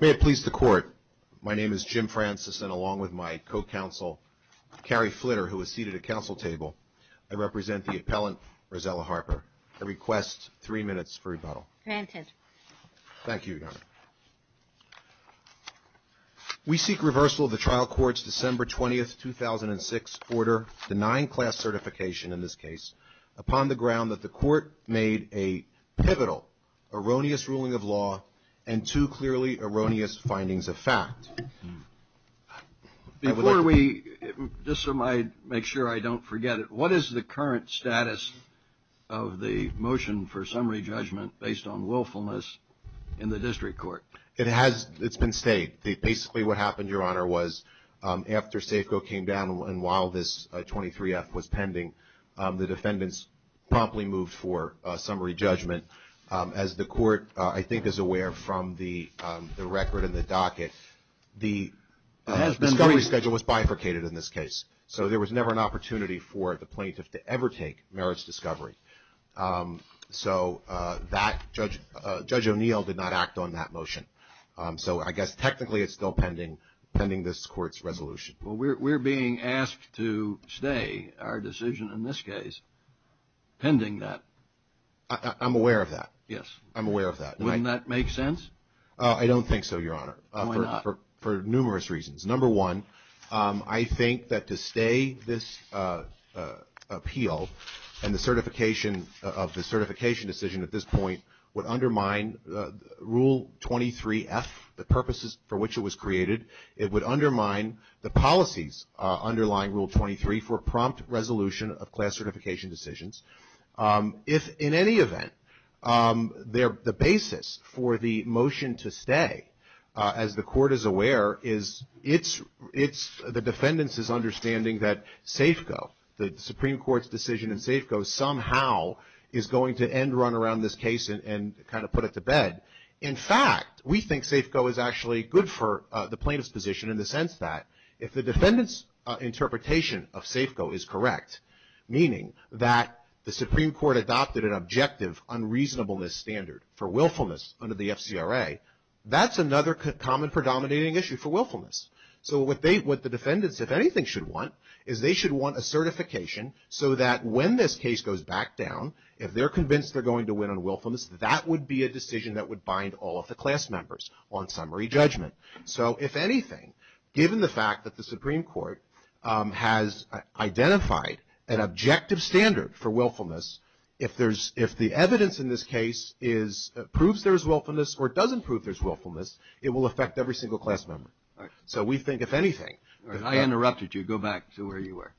May it please the Court, my name is Jim Francis and along with my co-counsel Carrie Flitter who is seated at council table, I represent the appellant Rosella Harper. I request three minutes for rebuttal. Granted. We seek reversal of the trial court's December 20th, 2006 order denying class certification in this case upon the ground that the court made a pivotal erroneous ruling of law and two clearly erroneous findings of fact. Before we, just so I make sure I don't forget it, what is the current status of the motion for summary judgment based on willfulness in the district court? It has, it's been stayed. Basically what happened, Your Honor, was after Safeco came down and while this 23F was pending, the defendants promptly moved for summary judgment. As the court I think is aware from the record and the docket, the discovery schedule was bifurcated in this case. So there was never an opportunity for the plaintiff to ever take merits discovery. So Judge O'Neill did not act on that motion. So I guess technically it's still pending this court's resolution. We're being asked to stay our decision in this case pending that. I'm aware of that. Yes. I'm aware of that. Wouldn't that make sense? I don't think so, Your Honor. Why not? For numerous reasons. Number one, I think that to stay this appeal and the certification of the certification decision at this point would undermine Rule 23F, the purposes for which it was created. It would undermine the policies underlying Rule 23 for prompt resolution of class certification decisions. If in any event, the basis for the motion to stay, as the court is aware, is the defendants' understanding that Safeco, the Supreme Court's decision in Safeco, somehow is going to end run around this case and kind of put it to bed. In fact, we think Safeco is actually good for the plaintiff's position in the sense that if the defendant's interpretation of Safeco is correct, meaning that the Supreme Court adopted an objective unreasonableness standard for willfulness under the FCRA, that's another common predominating issue for willfulness. So what the defendants, if anything, should want is they should want a certification so that when this case goes back down, if they're convinced they're going to win on willfulness, that would be a decision that would bind all of the class members on summary judgment. So if anything, given the fact that the Supreme Court has identified an objective standard for willfulness, if the evidence in this case proves there's willfulness or doesn't prove there's willfulness, it will affect every single class member. So we think, if anything. If I interrupted you, go back to where you were.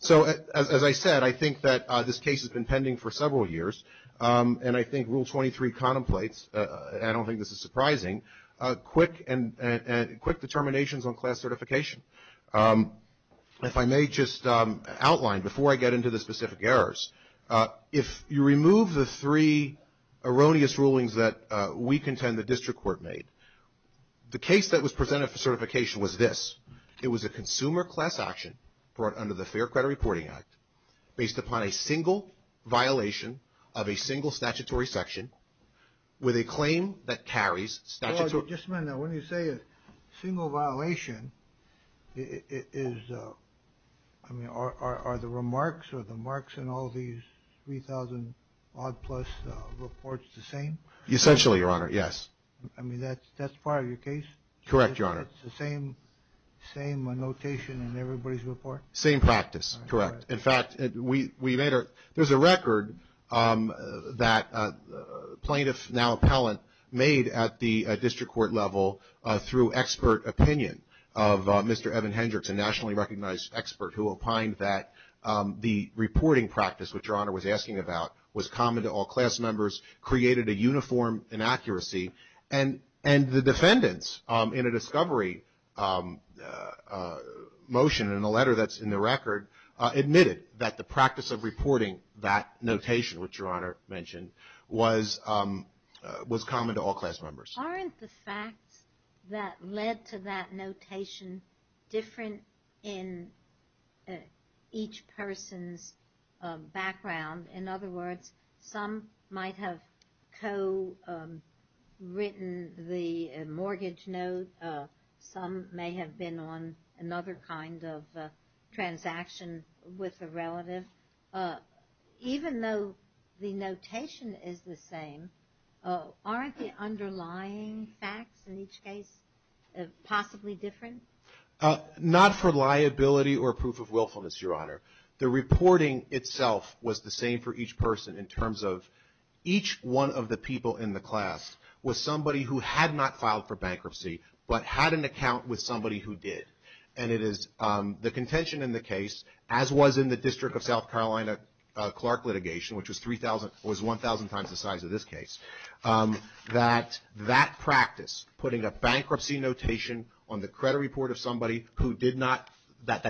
So as I said, I think that this case has been pending for several years, and I think Rule 23 contemplates, and I don't think this is surprising, quick determinations on class certification. If I may just outline, before I get into the specific errors, if you remove the three erroneous rulings that we contend the district court made, the case that was presented for certification was this. It was a consumer class action brought under the Fair Credit Reporting Act based upon a single violation of a single statutory section with a claim that carries statutory. Just a minute. When you say a single violation, are the remarks or the marks in all these 3,000-odd-plus reports the same? Essentially, Your Honor, yes. I mean, that's part of your case? Correct, Your Honor. It's the same notation in everybody's report? Same practice, correct. In fact, there's a record that a plaintiff, now appellant, made at the district court level through expert opinion of Mr. Evan Hendricks, a nationally recognized expert who opined that the reporting practice, which Your Honor was asking about, was common to all class members, created a uniform inaccuracy. And the defendants, in a discovery motion in a letter that's in the record, admitted that the practice of reporting that notation, which Your Honor mentioned, was common to all class members. Aren't the facts that led to that notation different in each person's background? In other words, some might have co-written the mortgage note. Some may have been on another kind of transaction with a relative. Even though the notation is the same, aren't the underlying facts in each case possibly different? Not for liability or proof of willfulness, Your Honor. The reporting itself was the same for each person in terms of each one of the people in the class was somebody who had not filed for bankruptcy, but had an account with somebody who did. And it is the contention in the case, as was in the District of South Carolina Clark litigation, which was 1,000 times the size of this case, that that practice, putting a bankruptcy notation on the credit report of somebody that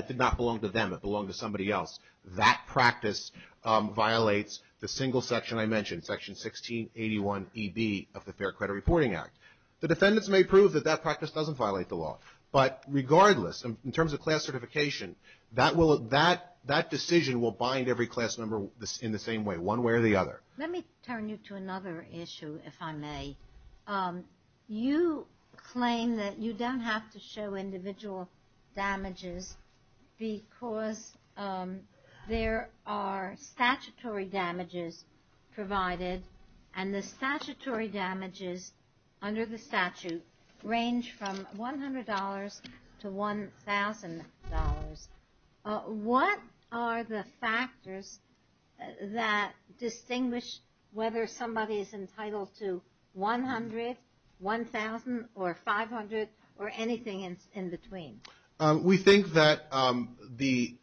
did not belong to them but belonged to somebody else, that practice violates the single section I mentioned, Section 1681EB of the Fair Credit Reporting Act. The defendants may prove that that practice doesn't violate the law. But regardless, in terms of class certification, that decision will bind every class member in the same way, one way or the other. Let me turn you to another issue, if I may. You claim that you don't have to show individual damages because there are statutory damages provided, and the statutory damages under the statute range from $100 to $1,000. What are the factors that distinguish whether somebody is entitled to $100, $1,000, or $500, or anything in between? We think that the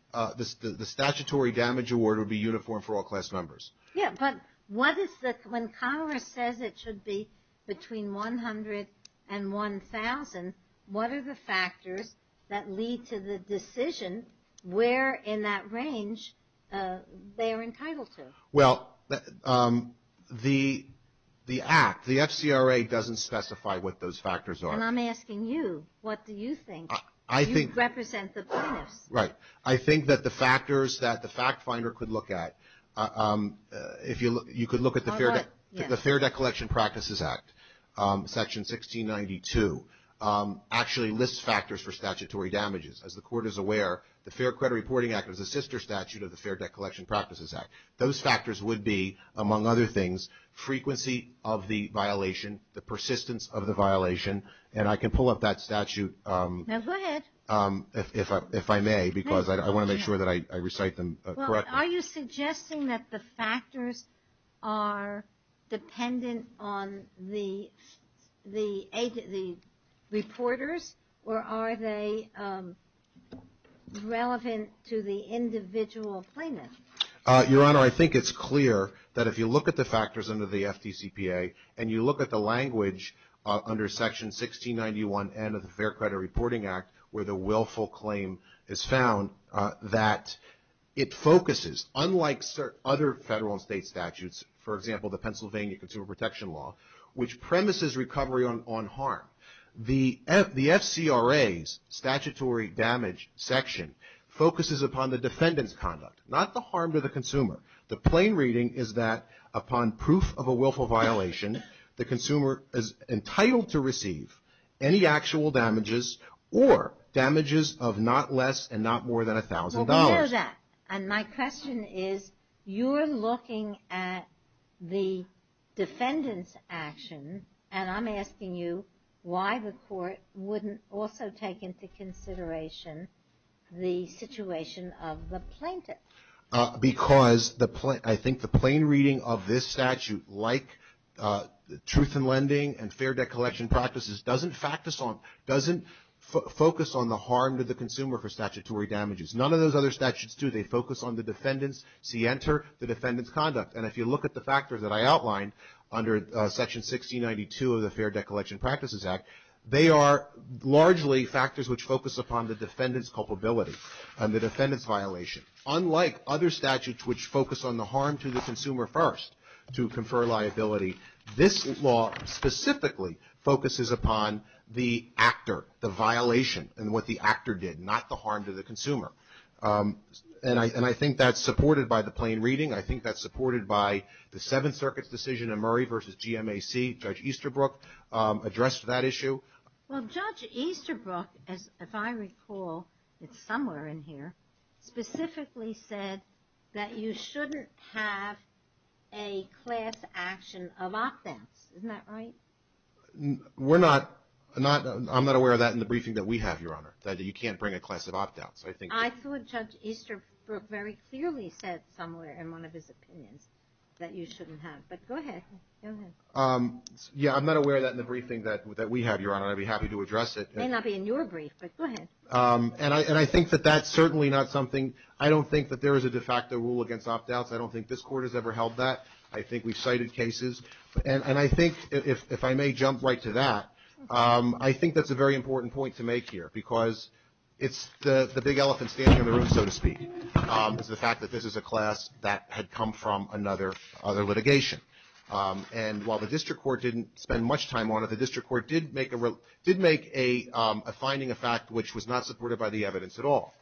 statutory damage award would be uniform for all class members. Yeah, but when Congress says it should be between $100 and $1,000, what are the factors that lead to the decision where in that range they are entitled to? Well, the act, the FCRA doesn't specify what those factors are. And I'm asking you. What do you think? You represent the plaintiffs. Right. I think that the factors that the fact finder could look at, if you look, you could look at the Fair Debt Collection Practices Act, Section 1692, actually lists factors for statutory damages. As the Court is aware, the Fair Credit Reporting Act is a sister statute of the Fair Debt Collection Practices Act. Those factors would be, among other things, frequency of the violation, the persistence of the violation. And I can pull up that statute if I may, because I want to make sure that I recite them correctly. Are you suggesting that the factors are dependent on the reporters, or are they relevant to the individual plaintiff? Your Honor, I think it's clear that if you look at the factors under the FDCPA, and you look at the language under Section 1691N of the Fair Credit Reporting Act, where the willful claim is found, that it focuses, unlike other federal and state statutes, for example, the Pennsylvania Consumer Protection Law, which premises recovery on harm. The FCRA's statutory damage section focuses upon the defendant's conduct, not the harm to the consumer. The plain reading is that upon proof of a willful violation, the consumer is entitled to receive any actual damages or damages of not less and not more than $1,000. Well, we know that. And my question is, you're looking at the defendant's action, and I'm asking you why the Court wouldn't also take into consideration the situation of the plaintiff. Because I think the plain reading of this statute, like truth in lending and fair debt collection practices, doesn't focus on the harm to the consumer for statutory damages. None of those other statutes do. They focus on the defendant's conduct. And if you look at the factors that I outlined under Section 1692 of the Fair Debt Collection Practices Act, they are largely factors which focus upon the defendant's culpability and the defendant's violation. Unlike other statutes which focus on the harm to the consumer first to confer liability, this law specifically focuses upon the actor, the violation, and what the actor did, not the harm to the consumer. And I think that's supported by the plain reading. I think that's supported by the Seventh Circuit's decision in Murray v. GMAC. Judge Easterbrook addressed that issue. Well, Judge Easterbrook, if I recall, it's somewhere in here, specifically said that you shouldn't have a class action of opt-outs. Isn't that right? I'm not aware of that in the briefing that we have, Your Honor, that you can't bring a class of opt-outs. I thought Judge Easterbrook very clearly said somewhere in one of his opinions that you shouldn't have. But go ahead. Yeah, I'm not aware of that in the briefing that we have, Your Honor. I'd be happy to address it. It may not be in your brief, but go ahead. And I think that that's certainly not something ‑‑ I don't think that there is a de facto rule against opt-outs. I don't think this Court has ever held that. I think we've cited cases. And I think, if I may jump right to that, I think that's a very important point to make here because it's the big elephant standing on the roof, so to speak, is the fact that this is a class that had come from another litigation. And while the District Court didn't spend much time on it, the District Court did make a finding, a fact, which was not supported by the evidence at all,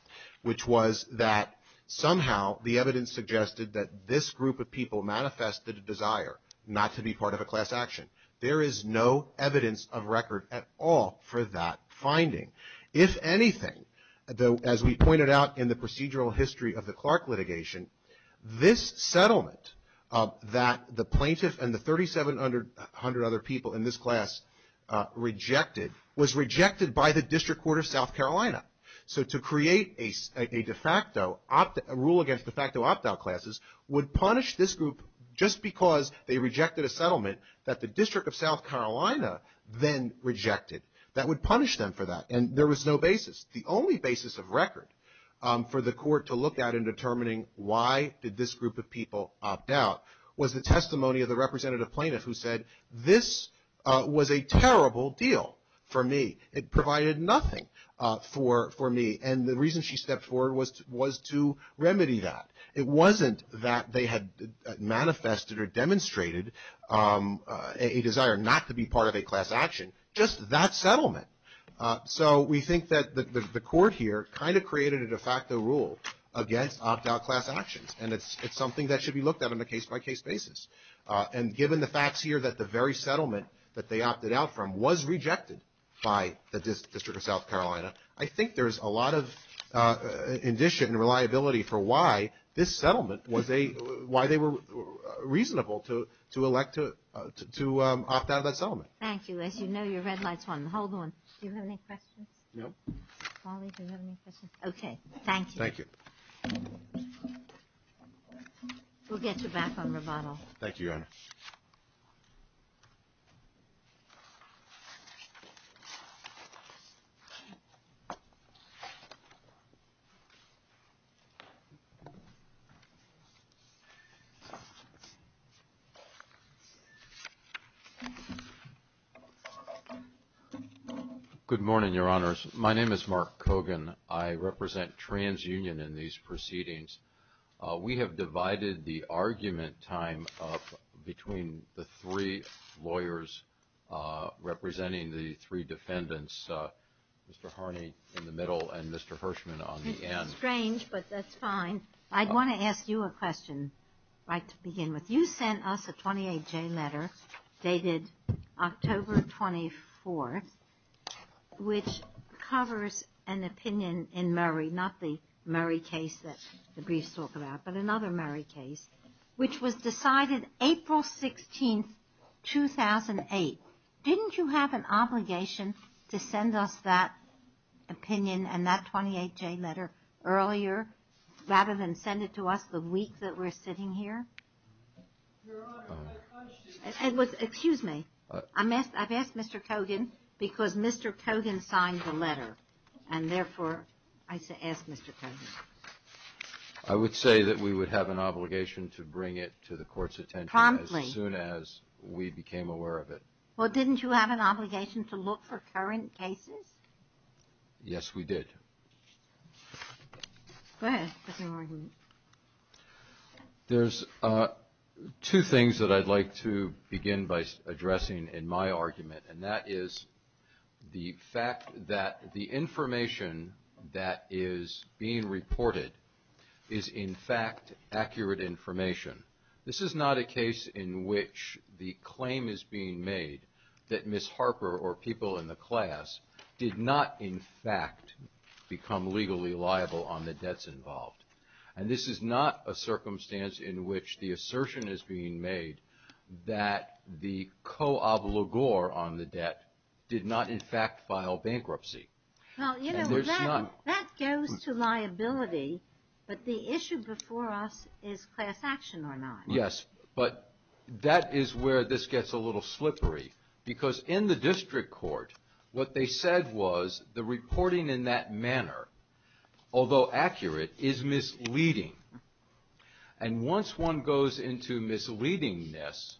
which was that somehow the evidence suggested that this group of people manifested a desire not to be part of a class action. If anything, as we pointed out in the procedural history of the Clark litigation, this settlement that the plaintiff and the 3,700 other people in this class rejected was rejected by the District Court of South Carolina. So to create a de facto rule against de facto opt-out classes would punish this group just because they rejected a settlement that the District of South Carolina then rejected. That would punish them for that. And there was no basis. The only basis of record for the court to look at in determining why did this group of people opt out was the testimony of the representative plaintiff who said, this was a terrible deal for me. It provided nothing for me. And the reason she stepped forward was to remedy that. It wasn't that they had manifested or demonstrated a desire not to be part of a class action. Just that settlement. So we think that the court here kind of created a de facto rule against opt-out class actions. And it's something that should be looked at on a case-by-case basis. And given the facts here that the very settlement that they opted out from was rejected by the District of South Carolina, I think there's a lot of indicia and reliability for why this settlement was a – why they were reasonable to elect to opt out of that settlement. Thank you. As you know, your red light's on. Hold on. Do you have any questions? No. Polly, do you have any questions? Okay. Thank you. We'll get you back on rebuttal. Thank you, Your Honor. Good morning, Your Honors. My name is Mark Cogan. I represent TransUnion in these proceedings. We have divided the argument time up between the three lawyers representing the three defendants, Mr. Harney in the middle and Mr. Hirschman on the end. It's strange, but that's fine. I want to ask you a question right to begin with. You sent us a 28-J letter dated October 24th, which covers an opinion in Murray, not the Murray case that the briefs talk about, but another Murray case, which was decided April 16th, 2008. Didn't you have an obligation to send us that opinion and that 28-J letter earlier rather than send it to us the week that we're sitting here? Your Honor, my question is... Excuse me. I've asked Mr. Cogan because Mr. Cogan signed the letter, and therefore I asked Mr. Cogan. I would say that we would have an obligation to bring it to the Court's attention as soon as we became aware of it. Well, didn't you have an obligation to look for current cases? Yes, we did. Go ahead. There's no argument. There's two things that I'd like to begin by addressing in my argument, and that is the fact that the information that is being reported is, in fact, accurate information. This is not a case in which the claim is being made that Ms. Harper or people in the class did not, in fact, become legally liable on the debts involved. And this is not a circumstance in which the assertion is being made that the co-obligor on the debt did not, in fact, file bankruptcy. Well, you know, that goes to liability, but the issue before us is class action or not. Yes, but that is where this gets a little slippery. Because in the district court, what they said was the reporting in that manner, although accurate, is misleading. And once one goes into misleading-ness,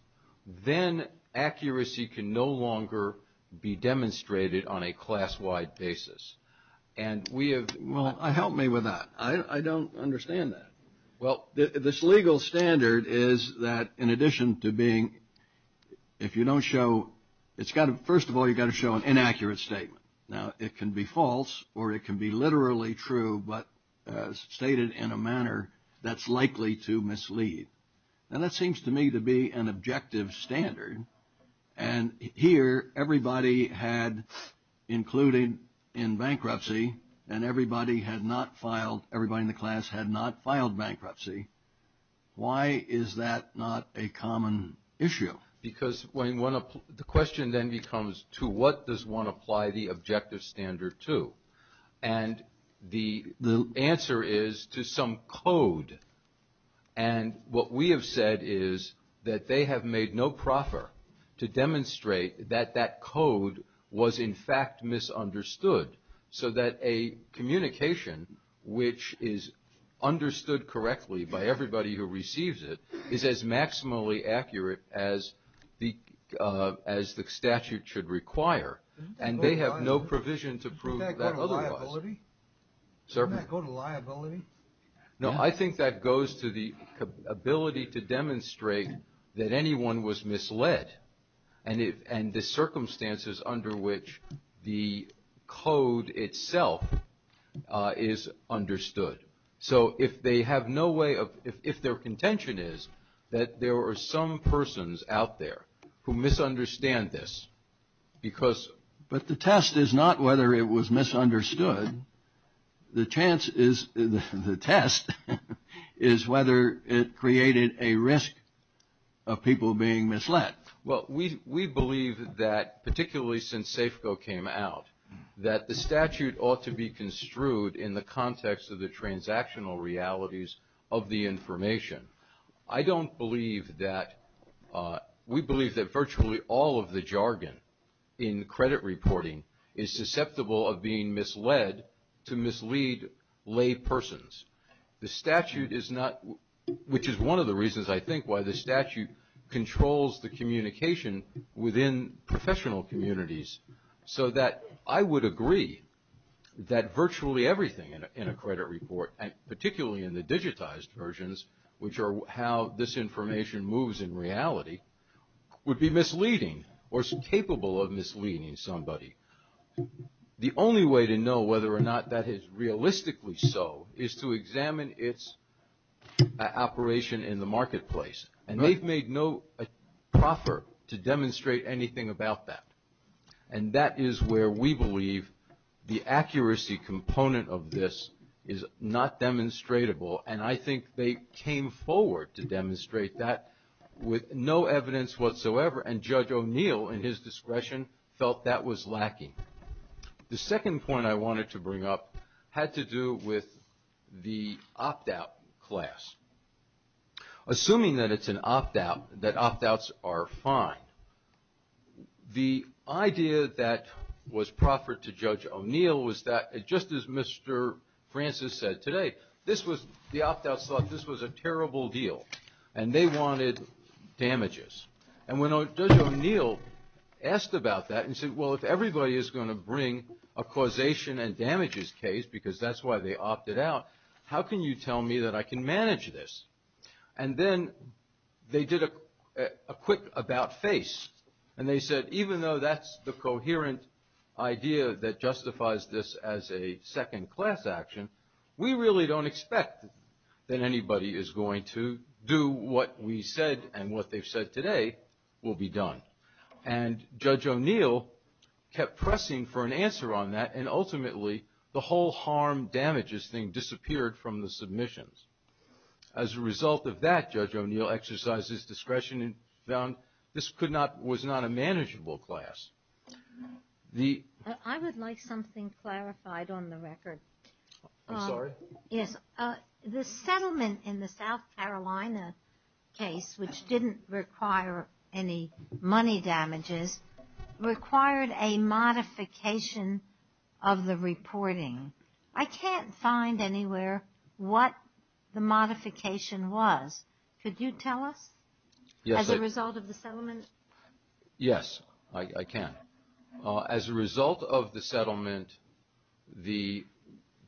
then accuracy can no longer be demonstrated on a class-wide basis. And we have – Well, help me with that. I don't understand that. Well, this legal standard is that in addition to being – if you don't show – first of all, you've got to show an inaccurate statement. Now, it can be false or it can be literally true, but stated in a manner that's likely to mislead. Now, that seems to me to be an objective standard. And here, everybody had included in bankruptcy and everybody had not filed – everybody in the class had not filed bankruptcy. Why is that not a common issue? Because when one – the question then becomes to what does one apply the objective standard to? And the answer is to some code. And what we have said is that they have made no proffer to demonstrate that that code was in fact misunderstood, so that a communication which is understood correctly by everybody who receives it is as maximally accurate as the statute should require. And they have no provision to prove that otherwise. Doesn't that go to liability? No, I think that goes to the ability to demonstrate that anyone was misled. And the circumstances under which the code itself is understood. So if they have no way of – if their contention is that there are some persons out there who misunderstand this because – But the test is not whether it was misunderstood. The chance is – the test is whether it created a risk of people being misled. Well, we believe that particularly since SAFCO came out that the statute ought to be construed in the context of the transactional realities of the information. I don't believe that – we believe that virtually all of the jargon in credit reporting is susceptible of being misled to mislead lay persons. The statute is not – which is one of the reasons I think why the statute controls the communication within professional communities, so that I would agree that virtually everything in a credit report, and particularly in the digitized versions, which are how this information moves in reality, would be misleading or capable of misleading somebody. The only way to know whether or not that is realistically so is to examine its operation in the marketplace. And they've made no proffer to demonstrate anything about that. And that is where we believe the accuracy component of this is not demonstratable. And I think they came forward to demonstrate that with no evidence whatsoever. And Judge O'Neill, in his discretion, felt that was lacking. The second point I wanted to bring up had to do with the opt-out class. Assuming that it's an opt-out, that opt-outs are fine, the idea that was proffered to Judge O'Neill was that, just as Mr. Francis said today, this was – the opt-outs thought this was a terrible deal. And they wanted damages. And when Judge O'Neill asked about that and said, well, if everybody is going to bring a causation and damages case, because that's why they opted out, how can you tell me that I can manage this? And then they did a quick about-face. And they said, even though that's the coherent idea that justifies this as a second-class action, we really don't expect that anybody is going to do what we said and what they've said today will be done. And Judge O'Neill kept pressing for an answer on that, and ultimately the whole harm-damages thing disappeared from the submissions. As a result of that, Judge O'Neill exercised his discretion and found this was not a manageable class. I would like something clarified on the record. I'm sorry? Yes, the settlement in the South Carolina case, which didn't require any money damages, required a modification of the reporting. I can't find anywhere what the modification was. Could you tell us as a result of the settlement? Yes, I can. As a result of the settlement, the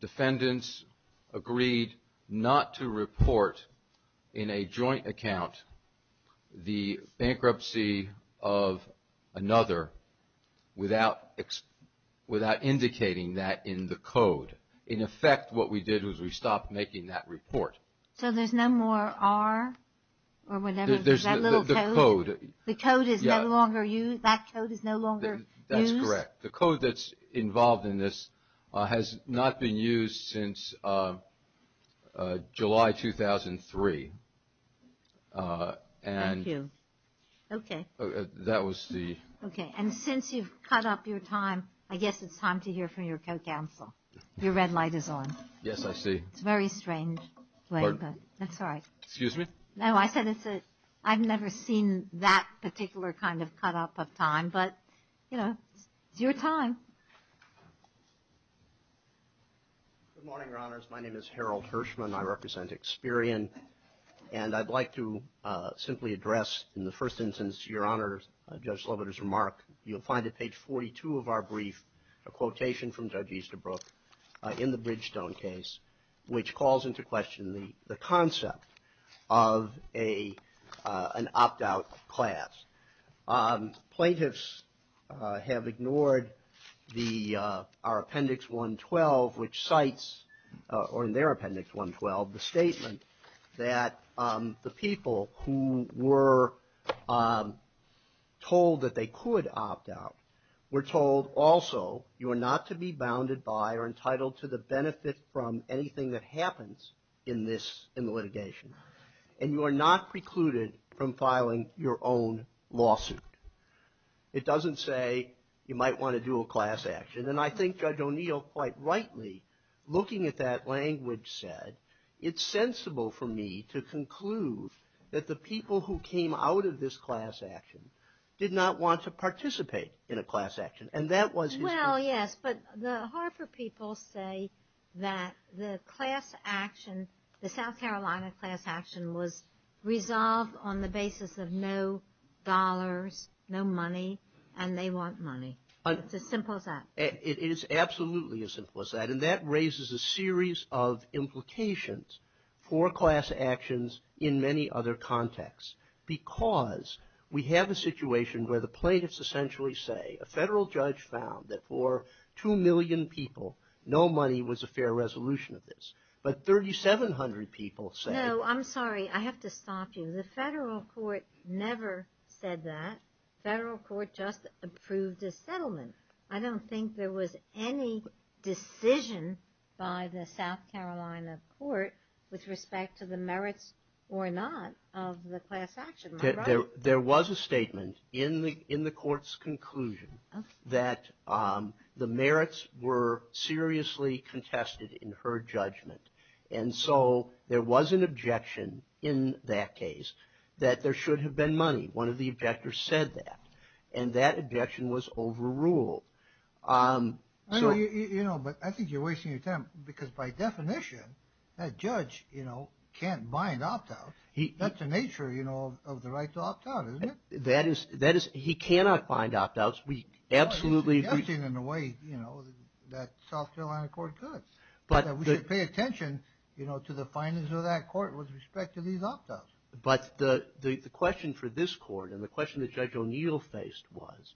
defendants agreed not to report in a joint account the bankruptcy of another without indicating that in the code. In effect, what we did was we stopped making that report. So there's no more R or whatever? That little code? The code. The code is no longer used? That code is no longer used? That's correct. The code that's involved in this has not been used since July 2003. Thank you. Okay. That was the... Okay. And since you've cut up your time, I guess it's time to hear from your co-counsel. Your red light is on. Yes, I see. It's a very strange way, but that's all right. Excuse me? No, I said it's a... I've never seen that particular kind of cut up of time, but, you know, it's your time. Good morning, Your Honors. My name is Harold Hirschman. I represent Experian. And I'd like to simply address in the first instance, Your Honors, Judge Sloboda's remark. You'll find at page 42 of our brief a quotation from Judge Easterbrook in the Bridgestone case, which calls into question the concept of an opt-out class. Plaintiffs have ignored our Appendix 112, which cites, or in their Appendix 112, the statement that the people who were told that they could opt out were told also, you are not to be bounded by or entitled to the benefit from anything that happens in the litigation. And you are not precluded from filing your own lawsuit. It doesn't say you might want to do a class action. And I think Judge O'Neill, quite rightly, looking at that language said, it's sensible for me to conclude that the people who came out of this class action did not want to participate in a class action. And that was his response. Well, yes. But the Harper people say that the class action, the South Carolina class action, was resolved on the basis of no dollars, no money, and they want money. It's as simple as that. It is absolutely as simple as that. And that raises a series of implications for class actions in many other contexts. Because we have a situation where the plaintiffs essentially say, a federal judge found that for 2 million people, no money was a fair resolution of this. But 3,700 people say. No, I'm sorry. I have to stop you. The federal court never said that. The federal court just approved a settlement. I don't think there was any decision by the South Carolina court with respect to the merits or not of the class action, am I right? There was a statement in the court's conclusion that the merits were seriously contested in her judgment. And so there was an objection in that case that there should have been money. One of the objectors said that. And that objection was overruled. I know, but I think you're wasting your time. Because by definition, that judge can't buy an opt-out. That's the nature, you know, of the right to opt-out, isn't it? That is, he cannot find opt-outs. We absolutely agree. In a way, you know, that South Carolina court could. But we should pay attention, you know, to the findings of that court with respect to these opt-outs. But the question for this court and the question that Judge O'Neill faced was,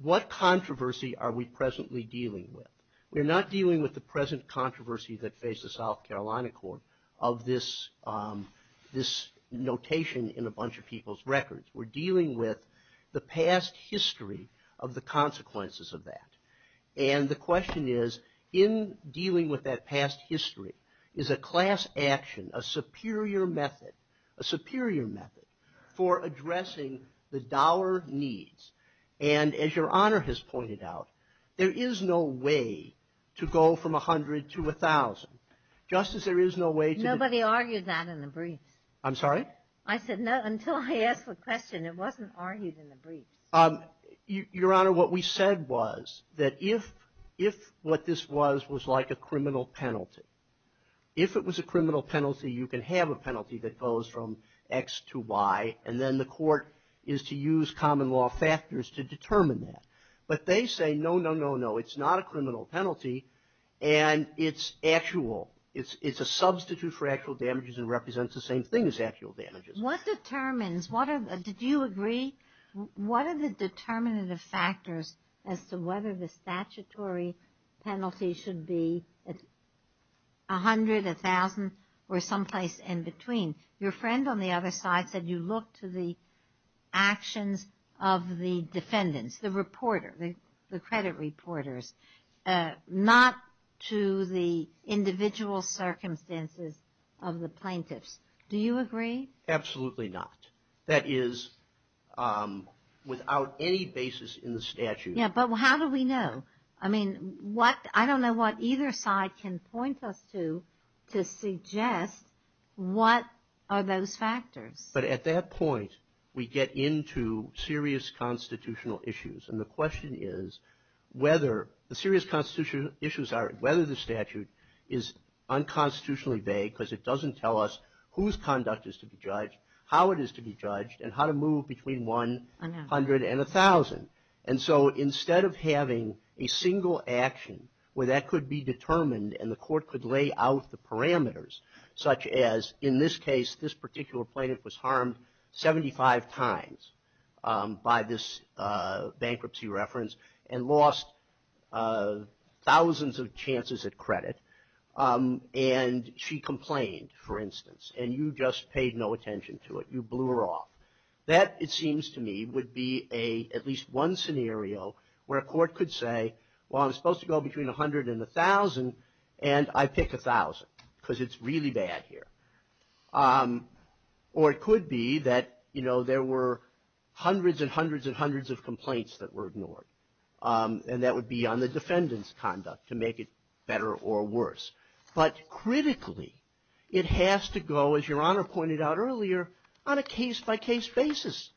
what controversy are we presently dealing with? We're not dealing with the present controversy that faced the South Carolina court of this notation in a bunch of people's records. We're dealing with the past history of the consequences of that. And the question is, in dealing with that past history, is a class action a superior method, a superior method for addressing the dour needs? And as Your Honor has pointed out, there is no way to go from 100 to 1,000. Justice, there is no way to do that. Nobody argued that in the briefs. I'm sorry? I said no, until I asked the question. It wasn't argued in the briefs. Your Honor, what we said was that if what this was was like a criminal penalty, if it was a criminal penalty, you can have a penalty that goes from X to Y, and then the court is to use common law factors to determine that. But they say, no, no, no, no. It's not a criminal penalty, and it's actual. It's a substitute for actual damages and represents the same thing as actual damages. What determines? Did you agree? What are the determinative factors as to whether the statutory penalty should be 100, 1,000, or someplace in between? Your friend on the other side said you look to the actions of the defendants, the reporter, the credit reporters, not to the individual circumstances of the plaintiffs. Do you agree? Absolutely not. That is without any basis in the statute. Yeah, but how do we know? I mean, I don't know what either side can point us to to suggest what are those factors. But at that point, we get into serious constitutional issues, and the question is whether the serious constitutional issues are whether the statute is unconstitutionally vague because it doesn't tell us whose conduct is to be judged, how it is to be judged, And so instead of having a single action where that could be determined and the court could lay out the parameters, such as in this case, this particular plaintiff was harmed 75 times by this bankruptcy reference and lost thousands of chances at credit, and she complained, for instance, and you just paid no attention to it. You blew her off. That, it seems to me, would be at least one scenario where a court could say, well, I'm supposed to go between 100 and 1,000, and I pick 1,000 because it's really bad here. Or it could be that, you know, there were hundreds and hundreds and hundreds of complaints that were ignored, and that would be on the defendant's conduct to make it better or worse. But critically, it has to go, as Your Honor pointed out earlier, on a case-by-case basis.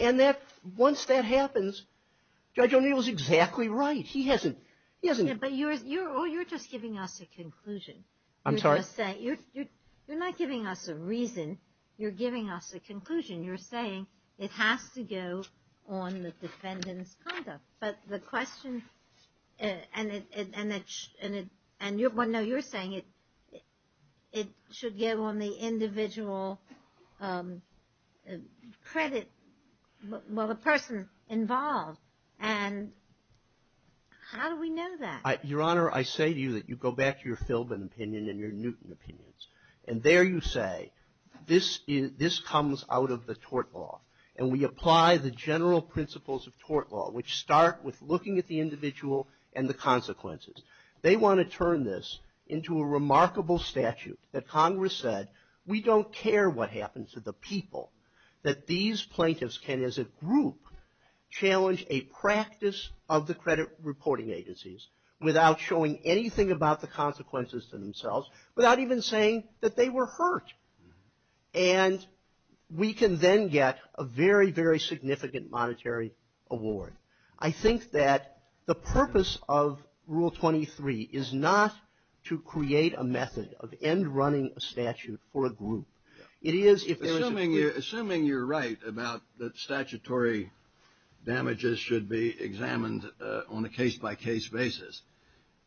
And that, once that happens, Judge O'Neill is exactly right. He hasn't. He hasn't. But you're just giving us a conclusion. I'm sorry? You're not giving us a reason. You're giving us a conclusion. You're saying it has to go on the defendant's conduct. But the question, and I know you're saying it should go on the individual credit, well, the person involved. And how do we know that? Your Honor, I say to you that you go back to your Philbin opinion and your Newton opinions. And there you say, this comes out of the tort law. And we apply the general principles of tort law, which start with looking at the individual and the consequences. They want to turn this into a remarkable statute that Congress said, we don't care what happens to the people, that these plaintiffs can, as a group, challenge a practice of the credit reporting agencies, without showing anything about the consequences to themselves, without even saying that they were hurt. And we can then get a very, very significant monetary award. I think that the purpose of Rule 23 is not to create a method of end running a statute for a group. It is if there is a group. Assuming you're right about that statutory damages should be examined on a case-by-case basis,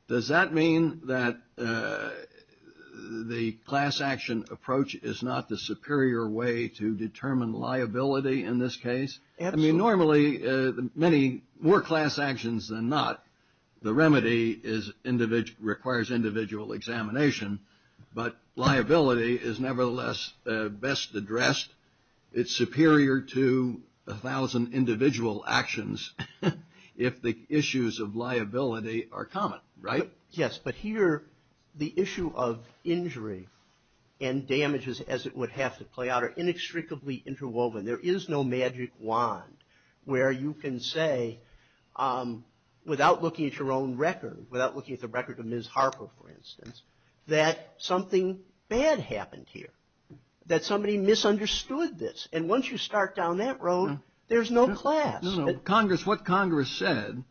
does that mean that the class action approach is not the superior way to determine liability in this case? Absolutely. I mean, normally, many more class actions than not, the remedy requires individual examination. But liability is nevertheless best addressed. It's superior to a thousand individual actions if the issues of liability are common, right? Yes. But here, the issue of injury and damages, as it would have to play out, are inextricably interwoven. There is no magic wand where you can say, without looking at your own record, without looking at the record of Ms. Harper, for instance, that something bad happened here, that somebody misunderstood this. And once you start down that road, there's no class. No, no. What Congress said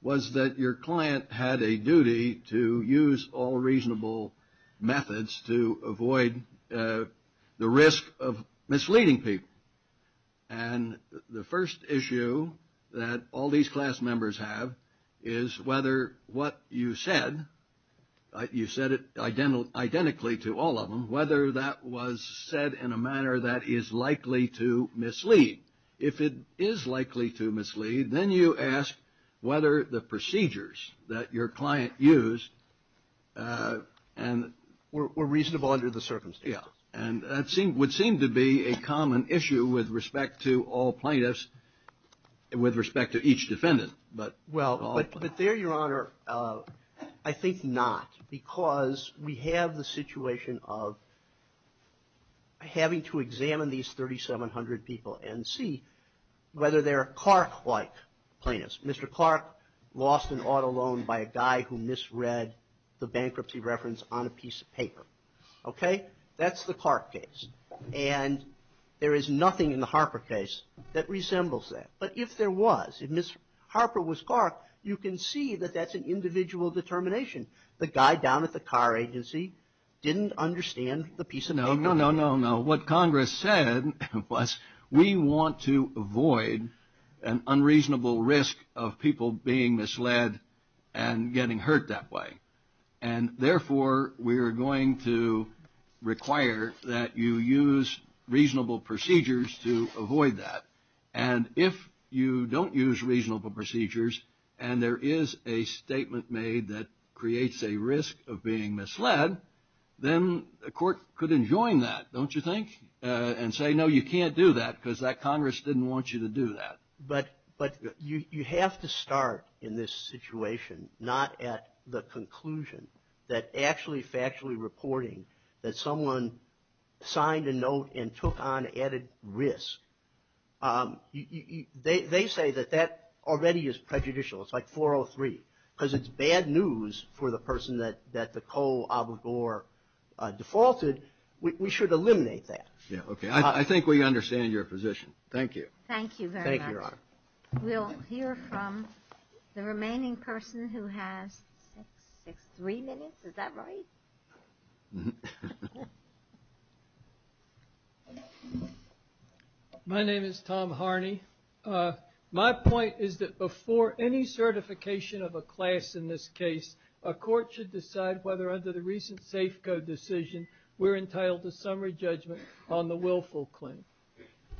was that your client had a duty to use all reasonable methods to avoid the risk of misleading people. And the first issue that all these class members have is whether what you said, you said it identically to all of them, whether that was said in a manner that is likely to mislead. If it is likely to mislead, then you ask whether the procedures that your client used were reasonable under the circumstances. Yeah. And that would seem to be a common issue with respect to all plaintiffs, with respect to each defendant. Well, but there, Your Honor, I think not, because we have the situation of having to examine these 3,700 people and see whether they're Clark-like plaintiffs. Mr. Clark lost an auto loan by a guy who misread the bankruptcy reference on a piece of paper. Okay? That's the Clark case. And there is nothing in the Harper case that resembles that. But if there was, if Ms. Harper was Clark, you can see that that's an individual determination. The guy down at the car agency didn't understand the piece of paper. No, no, no, no. What Congress said was we want to avoid an unreasonable risk of people being misled and getting hurt that way. And therefore, we are going to require that you use reasonable procedures to avoid that. And if you don't use reasonable procedures and there is a statement made that creates a risk of being misled, then a court could enjoin that, don't you think? And say, no, you can't do that because that Congress didn't want you to do that. But you have to start in this situation, not at the conclusion, that actually factually reporting that someone signed a note and took on added risk, they say that that already is prejudicial. It's like 403. Because it's bad news for the person that the coal abogor defaulted, we should eliminate that. Yeah, okay. I think we understand your position. Thank you very much. Thank you, Your Honor. We'll hear from the remaining person who has three minutes. Is that right? My name is Tom Harney. My point is that before any certification of a class in this case, a court should decide whether under the recent Safeco decision we're entitled to summary judgment on the willful claim.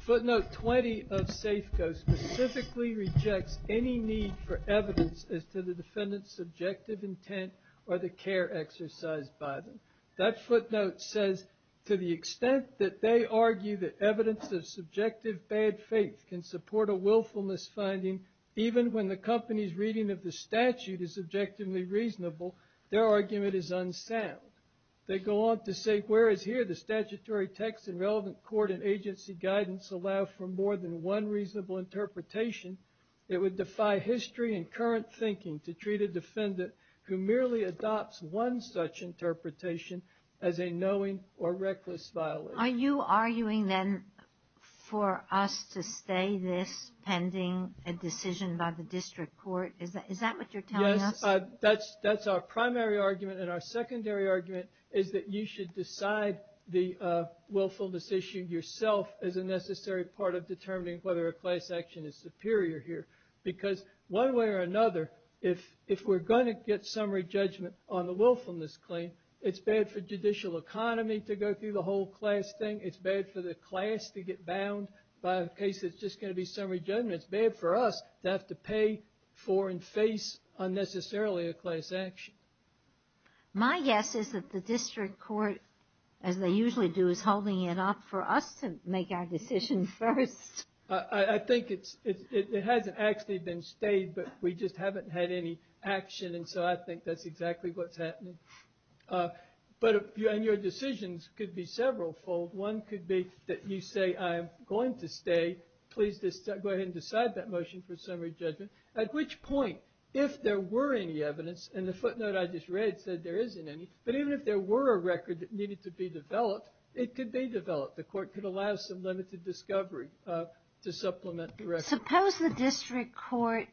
Footnote 20 of Safeco specifically rejects any need for evidence as to the defendant's subjective intent or the care exercised by them. That footnote says to the extent that they argue that evidence of subjective bad faith can support a willfulness finding, even when the company's reading of the statute is objectively reasonable, their argument is unsound. They go on to say, whereas here the statutory text and relevant court and agency guidance allow for more than one reasonable interpretation, it would defy history and current thinking to treat a defendant who merely adopts one such interpretation as a knowing or reckless violation. Are you arguing then for us to stay this pending a decision by the district court? Is that what you're telling us? That's our primary argument. And our secondary argument is that you should decide the willfulness issue yourself as a necessary part of determining whether a class action is superior here. Because one way or another, if we're going to get summary judgment on the willfulness claim, it's bad for judicial economy to go through the whole class thing. It's bad for the class to get bound by a case that's just going to be summary judgment. It's bad for us to have to pay for and face unnecessarily a class action. My guess is that the district court, as they usually do, is holding it up for us to make our decision first. I think it hasn't actually been stayed, but we just haven't had any action. And so I think that's exactly what's happening. But your decisions could be several fold. One could be that you say, I'm going to stay. Please go ahead and decide that motion for summary judgment. At which point, if there were any evidence, and the footnote I just read said there isn't any, but even if there were a record that needed to be developed, it could be developed. The court could allow some limited discovery to supplement the record. Suppose the district court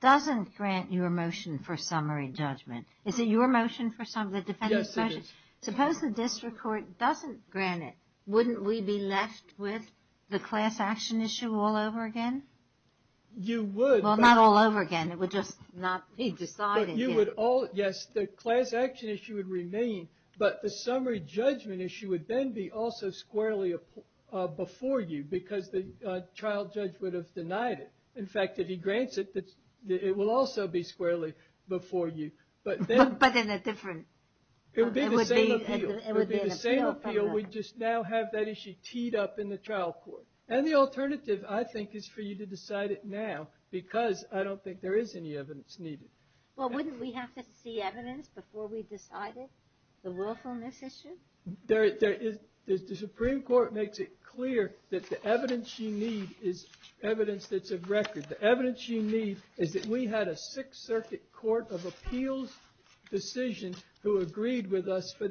doesn't grant your motion for summary judgment. Is it your motion for summary judgment? Yes, it is. Suppose the district court doesn't grant it. Wouldn't we be left with the class action issue all over again? You would. Well, not all over again. It would just not be decided. Yes, the class action issue would remain, but the summary judgment issue would then be also squarely before you because the trial judge would have denied it. In fact, if he grants it, it will also be squarely before you. But in a different – It would be the same appeal. We'd just now have that issue teed up in the trial court. And the alternative, I think, is for you to decide it now because I don't think there is any evidence needed. Well, wouldn't we have to see evidence before we decided the willfulness issue? The Supreme Court makes it clear that the evidence you need is evidence that's of record. The evidence you need is that we had a Sixth Circuit Court of Appeals decision who agreed with us for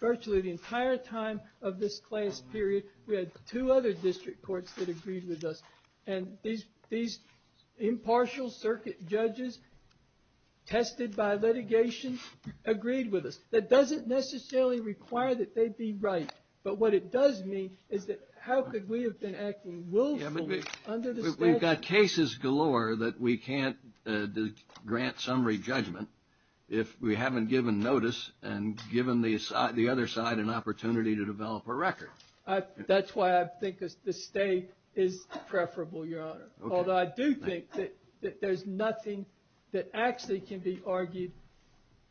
virtually the entire time of this class period. We had two other district courts that agreed with us. And these impartial circuit judges tested by litigation agreed with us. That doesn't necessarily require that they be right. But what it does mean is that how could we have been acting willfully under the statute? We've got cases galore that we can't grant summary judgment if we haven't given notice and given the other side an opportunity to develop a record. That's why I think the State is preferable, Your Honor. Although I do think that there's nothing that actually can be argued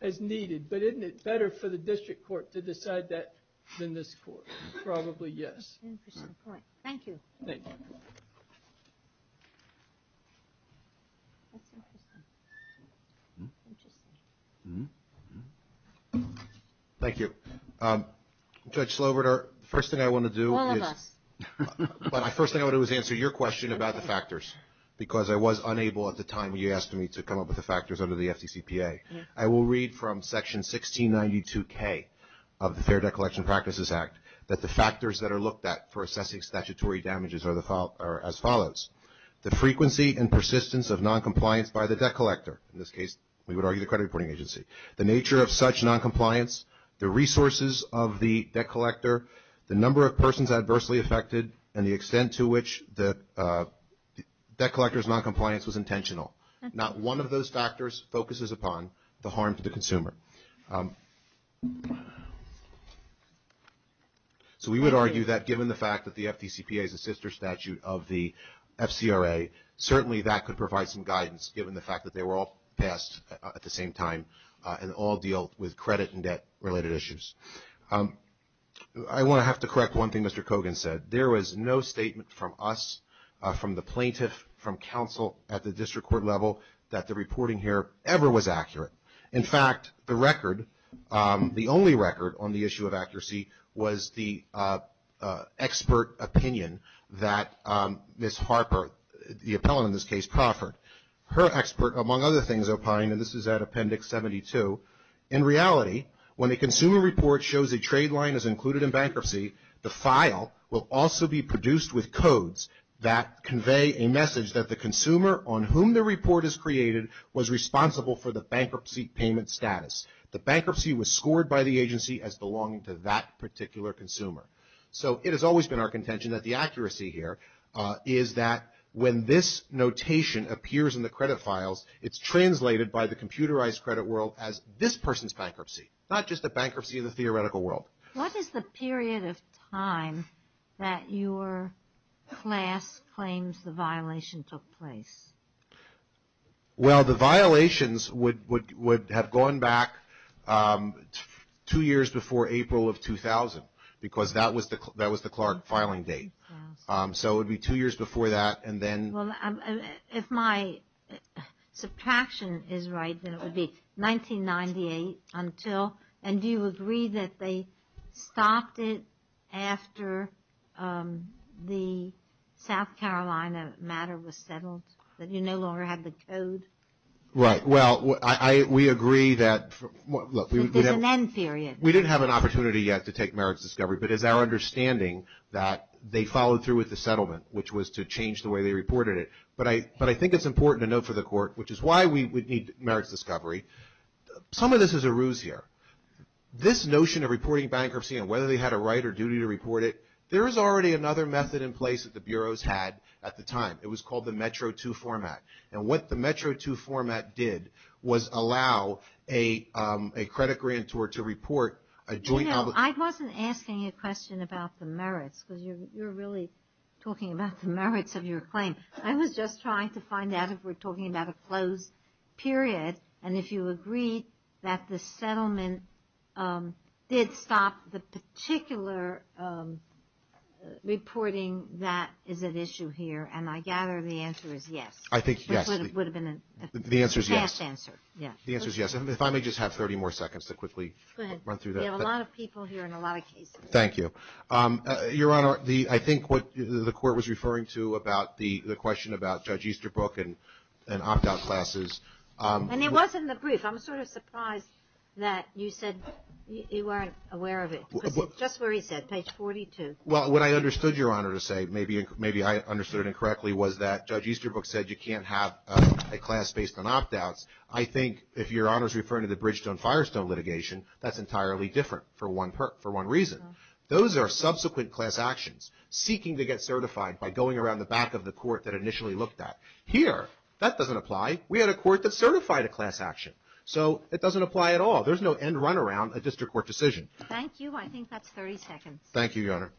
as needed. But isn't it better for the district court to decide that than this court? Probably yes. Interesting point. Thank you. Thank you. That's interesting. Interesting. Thank you. Judge Sloverter, the first thing I want to do is answer your question about the factors because I was unable at the time when you asked me to come up with the factors under the FDCPA. I will read from Section 1692K of the Fair Debt Collection Practices Act that the factors that are looked at for assessing statutory damages are the following. The frequency and persistence of noncompliance by the debt collector. In this case, we would argue the credit reporting agency. The nature of such noncompliance, the resources of the debt collector, the number of persons adversely affected, and the extent to which the debt collector's noncompliance was intentional. Not one of those factors focuses upon the harm to the consumer. So we would argue that given the fact that the FDCPA is a sister statute of the FCRA, certainly that could provide some guidance given the fact that they were all passed at the same time and all deal with credit and debt-related issues. I want to have to correct one thing Mr. Kogan said. There was no statement from us, from the plaintiff, from counsel at the district court level, that the reporting here ever was accurate. In fact, the record, the only record on the issue of accuracy, was the expert opinion that Ms. Harper, the appellant in this case, proffered. Her expert, among other things, opined, and this is at Appendix 72, in reality, when a consumer report shows a trade line is included in bankruptcy, the file will also be produced with codes that convey a message that the consumer on whom the report is created was responsible for the bankruptcy payment status. The bankruptcy was scored by the agency as belonging to that particular consumer. So it has always been our contention that the accuracy here is that when this notation appears in the credit files, it's translated by the computerized credit world as this person's bankruptcy, not just a bankruptcy of the theoretical world. What is the period of time that your class claims the violation took place? Well, the violations would have gone back two years before April of 2000, because that was the Clark filing date. So it would be two years before that, and then… Well, if my subtraction is right, then it would be 1998 until, and do you agree that they stopped it after the South Carolina matter was settled, that you no longer had the code? Right. Well, we agree that… There's an end period. We didn't have an opportunity yet to take merits discovery, but it's our understanding that they followed through with the settlement, which was to change the way they reported it. But I think it's important to note for the court, which is why we would need merits discovery, some of this is a ruse here. This notion of reporting bankruptcy and whether they had a right or duty to report it, there is already another method in place that the bureaus had at the time. It was called the METRO II format. And what the METRO II format did was allow a credit grantor to report a joint… I wasn't asking a question about the merits, because you're really talking about the merits of your claim. I was just trying to find out if we're talking about a closed period, and if you agree that the settlement did stop the particular reporting that is at issue here. And I gather the answer is yes. I think yes. Which would have been a fast answer. The answer is yes. The answer is yes. If I may just have 30 more seconds to quickly run through that. There are a lot of people here and a lot of cases. Thank you. Your Honor, I think what the court was referring to about the question about Judge Easterbrook and opt-out classes… And it was in the brief. I'm sort of surprised that you said you weren't aware of it, because it's just where he said, page 42. Well, what I understood, Your Honor, to say, maybe I understood it incorrectly, was that Judge Easterbrook said you can't have a class based on opt-outs. I think if Your Honor is referring to the Bridgestone-Firestone litigation, that's entirely different for one reason. Those are subsequent class actions, seeking to get certified by going around the back of the court that initially looked at. Here, that doesn't apply. We had a court that certified a class action. So it doesn't apply at all. There's no end run around a district court decision. Thank you. I think that's 30 seconds. Thank you, Your Honor.